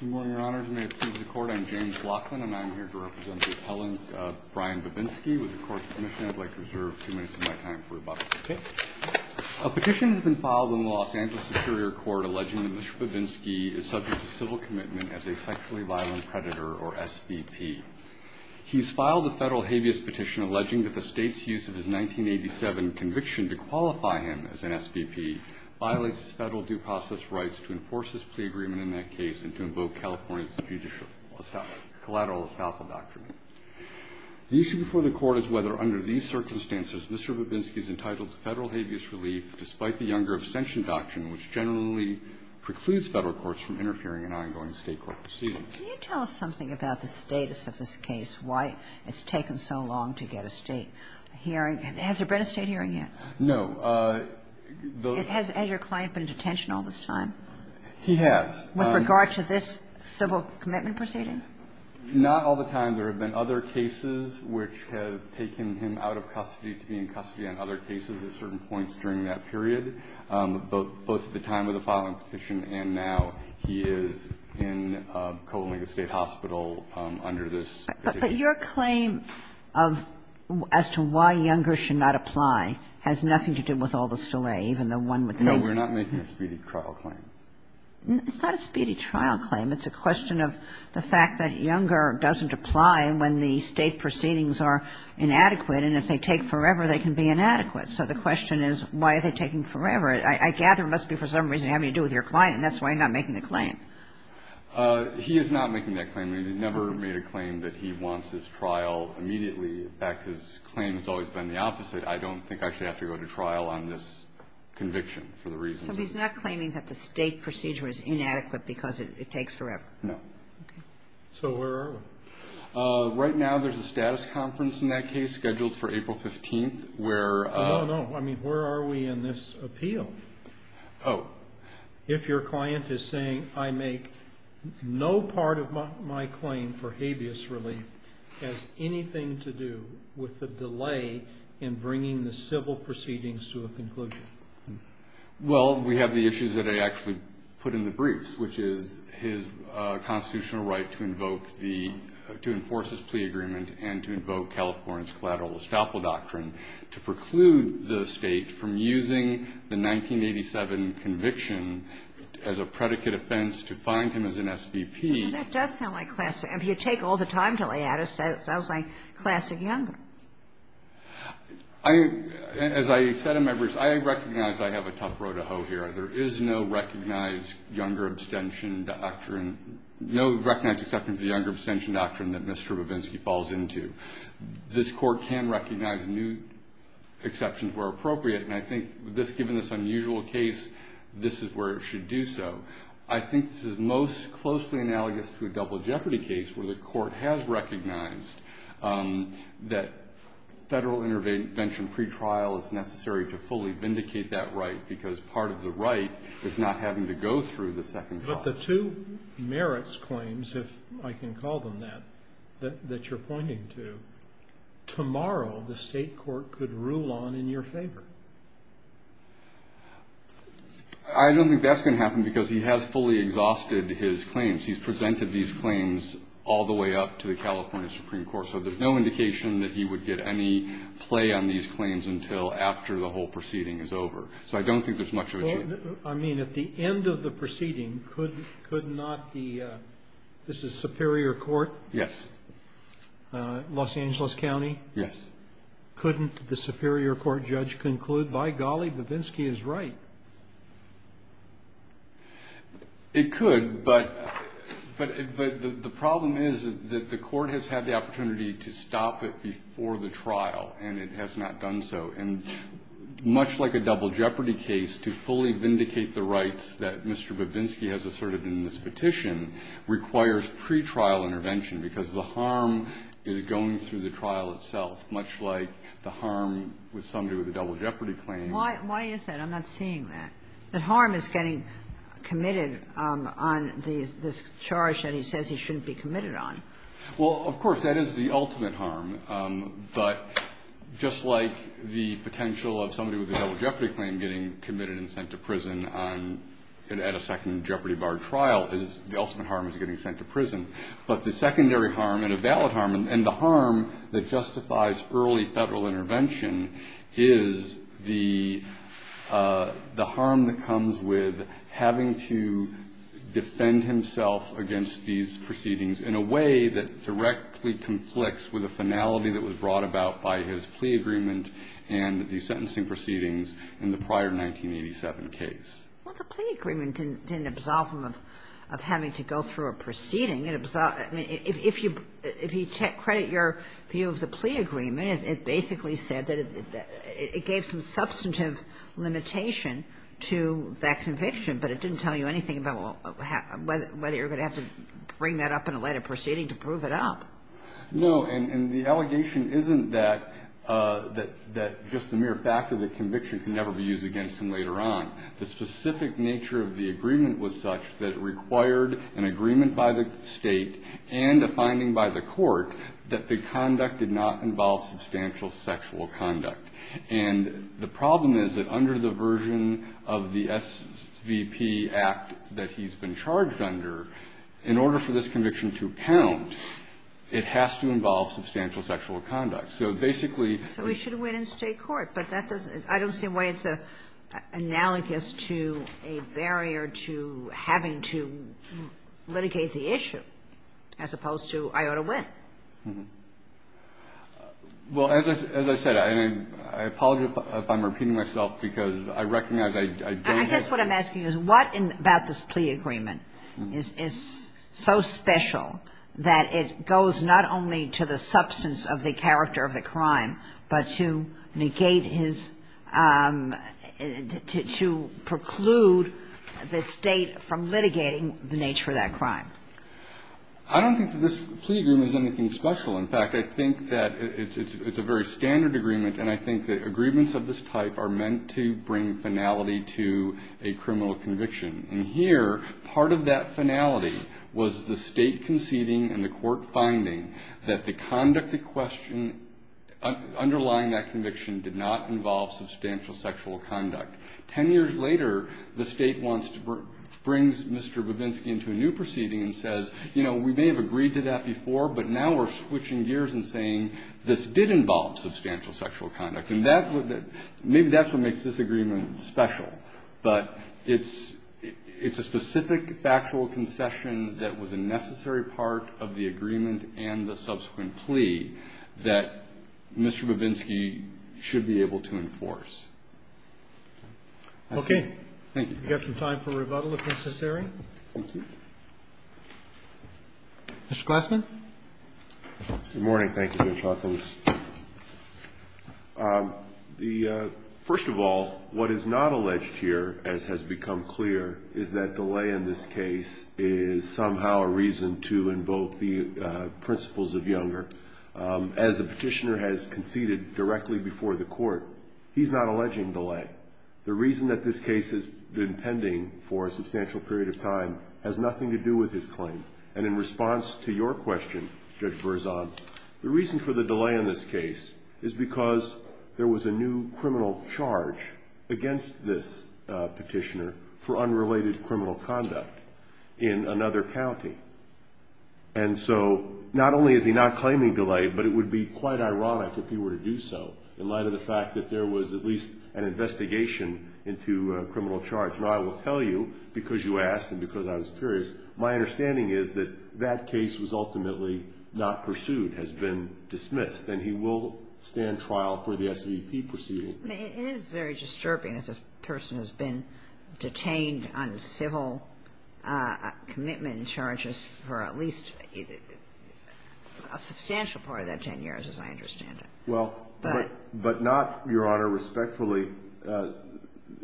Good morning, Your Honors. May it please the Court, I'm James Laughlin, and I'm here to represent the appellant, Brian Bobinski, with the Court's permission. I'd like to reserve two minutes of my time for rebuttal. A petition has been filed in the Los Angeles Superior Court alleging that Mr. Bobinski is subject to civil commitment as a sexually violent predator, or SVP. He's filed a federal habeas petition alleging that the state's use of his 1987 conviction to qualify him as an SVP violates his federal due process rights to enforce his plea agreement in that case and to invoke California's judicial collateral estoppel doctrine. The issue before the Court is whether, under these circumstances, Mr. Bobinski is entitled to federal habeas relief despite the Younger Abstention Doctrine, which generally precludes federal courts from interfering in ongoing state court proceedings. Can you tell us something about the status of this case, why it's taken so long to get a state hearing? Has there been a state hearing yet? No. Has Edgar Klein been in detention all this time? He has. With regard to this civil commitment proceeding? Not all the time. There have been other cases which have taken him out of custody to be in custody on other cases at certain points during that period, both at the time of the filing petition and now. He is in Covalinka State Hospital under this petition. But your claim of as to why Younger should not apply has nothing to do with all this delay, even though one would think. No. We're not making a speedy trial claim. It's not a speedy trial claim. It's a question of the fact that Younger doesn't apply when the state proceedings are inadequate, and if they take forever, they can be inadequate. So the question is, why are they taking forever? I gather it must be for some reason having to do with your client, and that's why you're not making the claim. He is not making that claim. He never made a claim that he wants his trial immediately. In fact, his claim has always been the opposite. I don't think I should have to go to trial on this conviction for the reason. So he's not claiming that the state procedure is inadequate because it takes forever? No. Okay. So where are we? Right now, there's a status conference in that case scheduled for April 15th, where No, no. I mean, where are we in this appeal? Oh. If your client is saying, I make no part of my claim for habeas relief has anything to do with the delay in bringing the civil proceedings to a conclusion. Well, we have the issues that I actually put in the briefs, which is his constitutional right to enforce his plea agreement and to invoke California's collateral estoppel doctrine to preclude the State from using the 1987 conviction as a predicate offense to find him as an SVP. Well, that does sound like classic. I mean, you take all the time to lay out it, so it sounds like classic Younger. As I said to members, I recognize I have a tough row to hoe here. There is no recognized Younger abstention doctrine, no recognized exception to the Younger abstention doctrine that Mr. Babinski falls into. This court can recognize new exceptions where appropriate. And I think given this unusual case, this is where it should do so. I think this is most closely analogous to a double jeopardy case where the court has recognized that federal intervention pretrial is necessary to fully vindicate that right because part of the right is not having to go through the second trial. The two merits claims, if I can call them that, that you're pointing to, tomorrow the state court could rule on in your favor. I don't think that's going to happen because he has fully exhausted his claims. He's presented these claims all the way up to the California Supreme Court, so there's no indication that he would get any play on these claims until after the whole proceeding is over. So I don't think there's much of a change. I mean, at the end of the proceeding, could not the, this is Superior Court? Yes. Los Angeles County? Yes. Couldn't the Superior Court judge conclude, by golly, Babinski is right? It could, but the problem is that the court has had the opportunity to stop it before the trial and it has not done so. And much like a double jeopardy case, to fully vindicate the rights that Mr. Babinski has asserted in this petition requires pretrial intervention because the harm is going through the trial itself, much like the harm with somebody with a double jeopardy claim. Why is that? I'm not seeing that. The harm is getting committed on this charge that he says he shouldn't be committed on. Well, of course, that is the ultimate harm. But just like the potential of somebody with a double jeopardy claim getting committed and sent to prison on, at a second jeopardy bar trial, the ultimate harm is getting sent to prison. But the secondary harm and a valid harm and the harm that justifies early Federal intervention is the harm that comes with having to defend himself against these In this case, there is a way that directly conflicts with a finality that was brought about by his plea agreement and the sentencing proceedings in the prior 1987 case. Well, the plea agreement didn't absolve him of having to go through a proceeding. If you credit your view of the plea agreement, it basically said that it gave some substantive limitation to that conviction, but it didn't tell you anything about whether you're going to have to bring that up in a later proceeding to prove it up. No. And the allegation isn't that just the mere fact of the conviction can never be used against him later on. The specific nature of the agreement was such that it required an agreement by the State and a finding by the Court that the conduct did not involve substantial sexual conduct. And the problem is that under the version of the SVP Act that he's been charged under, in order for this conviction to count, it has to involve substantial sexual conduct. So basically the ---- So he should win in State court, but that doesn't ---- I don't see why it's analogous to a barrier to having to litigate the issue as opposed to I ought to win. Well, as I said, and I apologize if I'm repeating myself, because I recognize I don't ---- I guess what I'm asking is what about this plea agreement is so special that it goes not only to the substance of the character of the crime, but to negate his ---- to preclude the State from litigating the nature of that crime? I don't think that this plea agreement is anything special. In fact, I think that it's a very standard agreement, and I think that agreements of this type are meant to bring finality to a criminal conviction. And here, part of that finality was the State conceding and the Court finding that the conduct at question underlying that conviction did not involve substantial sexual conduct. Ten years later, the State wants to bring Mr. Babinski into a new proceeding and says, you know, we may have agreed to that before, but now we're switching gears and saying this did involve substantial sexual conduct. And that's what ---- maybe that's what makes this agreement special. But it's a specific factual concession that was a necessary part of the agreement and the subsequent plea that Mr. Babinski should be able to enforce. Okay. Thank you. We've got some time for rebuttal if necessary. Thank you. Mr. Glassman? Good morning. Thank you, Judge Hawkins. First of all, what is not alleged here, as has become clear, is that delay in this case is somehow a reason to invoke the principles of Younger. As the Petitioner has conceded directly before the Court, he's not alleging delay. The reason that this case has been pending for a substantial period of time has nothing to do with his claim. And in response to your question, Judge Berzon, the reason for the delay in this case is because there was a new criminal charge against this Petitioner for unrelated criminal conduct in another county. And so not only is he not claiming delay, but it would be quite ironic if he were to to a criminal charge. And I will tell you, because you asked and because I was curious, my understanding is that that case was ultimately not pursued, has been dismissed, and he will stand trial for the SVP proceeding. It is very disturbing that this person has been detained on civil commitment charges for at least a substantial part of that 10 years, as I understand it. Well, but not, Your Honor, respectfully.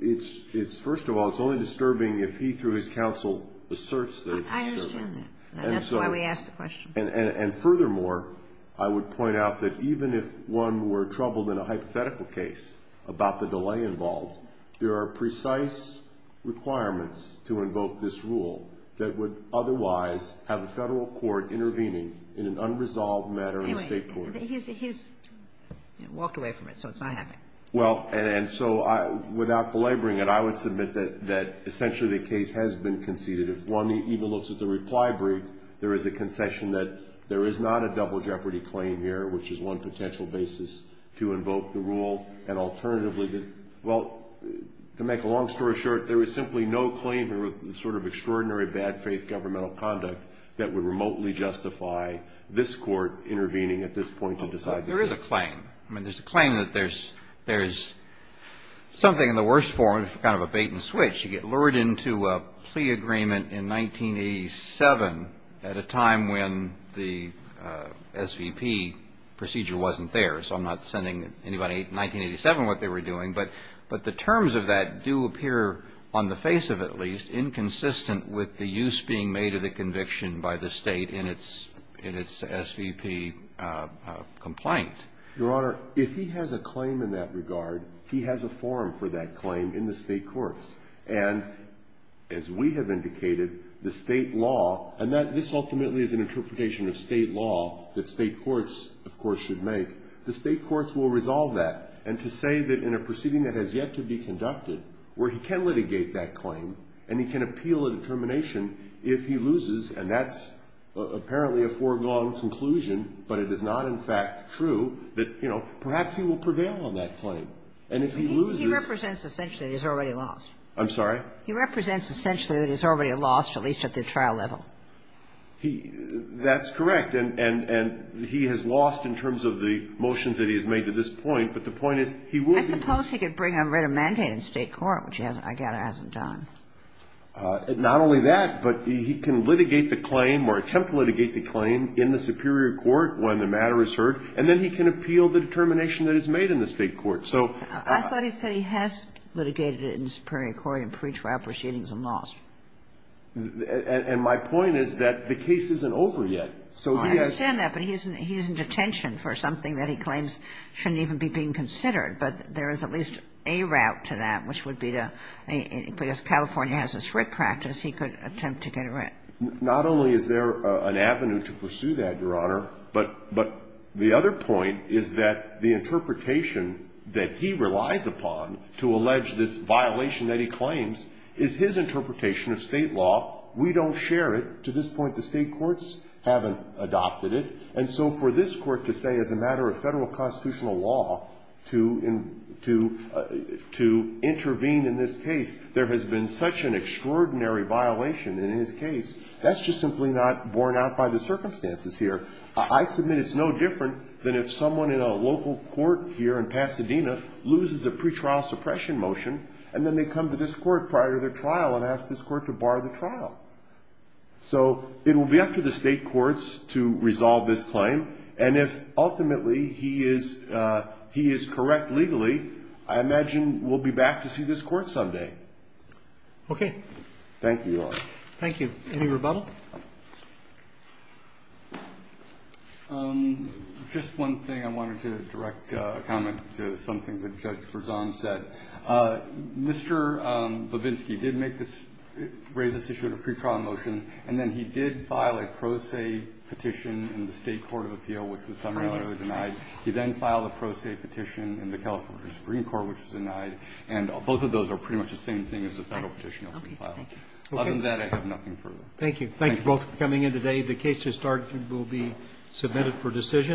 It's first of all, it's only disturbing if he, through his counsel, asserts that it's disturbing. I understand that. And that's why we asked the question. And furthermore, I would point out that even if one were troubled in a hypothetical case about the delay involved, there are precise requirements to invoke this rule that would otherwise have a Federal court intervening in an unresolved matter in a State court. He's walked away from it, so it's not happening. Well, and so I, without belaboring it, I would submit that essentially the case has been conceded. If one even looks at the reply brief, there is a concession that there is not a double jeopardy claim here, which is one potential basis to invoke the rule. And alternatively, well, to make a long story short, there is simply no claim here with the sort of extraordinary bad faith governmental conduct that would remotely justify this Court intervening at this point to decide the case. There is a claim. I mean, there's a claim that there's something in the worst form, kind of a bait-and-switch. You get lured into a plea agreement in 1987 at a time when the SVP procedure wasn't there, so I'm not sending anybody in 1987 what they were doing. But the terms of that do appear, on the face of it at least, inconsistent with the use being made of the conviction by the State in its SVP complaint. Your Honor, if he has a claim in that regard, he has a forum for that claim in the State courts. And as we have indicated, the State law, and this ultimately is an interpretation of State law that State courts, of course, should make. The State courts will resolve that. And to say that in a proceeding that has yet to be conducted where he can litigate that claim and he can appeal a determination if he loses, and that's apparently a foregone conclusion, but it is not, in fact, true, that, you know, perhaps he will prevail on that claim. And if he loses he represents essentially that he's already lost. I'm sorry? He represents essentially that he's already lost, at least at the trial level. He – that's correct. And he has lost in terms of the motions that he has made to this point, but the point is he will be – I suppose he could bring a written mandate in State court, which he hasn't – I gather hasn't done. Not only that, but he can litigate the claim or attempt to litigate the claim in the superior court when the matter is heard, and then he can appeal the determination that is made in the State court. So – I thought he said he has litigated it in the superior court and preached for our proceedings and lost. And my point is that the case isn't over yet. So he has – I understand that, but he's in detention for something that he claims shouldn't even be being considered, but there is at least a route to that, which would be to – because California has this writ practice, he could attempt to get it right. Not only is there an avenue to pursue that, Your Honor, but the other point is that the interpretation that he relies upon to allege this violation that he claims is his interpretation of State law. We don't share it. To this point, the State courts haven't adopted it. And so for this court to say, as a matter of Federal constitutional law, to intervene in this case, there has been such an extraordinary violation in his case, that's just simply not borne out by the circumstances here. I submit it's no different than if someone in a local court here in Pasadena loses a pretrial suppression motion, and then they come to this court prior to their trial and ask this court to bar the trial. So it will be up to the State courts to resolve this claim, and if ultimately he is correct legally, I imagine we'll be back to see this court someday. Thank you, Your Honor. Thank you. Any rebuttal? Just one thing. I wanted to direct a comment to something that Judge Berzon said. Mr. Babinski did make this raise this issue at a pretrial motion, and then he did file a pro se petition in the State court of appeal, which was somehow denied. He then filed a pro se petition in the California Supreme Court, which was denied. And both of those are pretty much the same thing as the Federal petition that we filed. Other than that, I have nothing further. Thank you. Thank you both for coming in today. The case to start will be submitted for decision.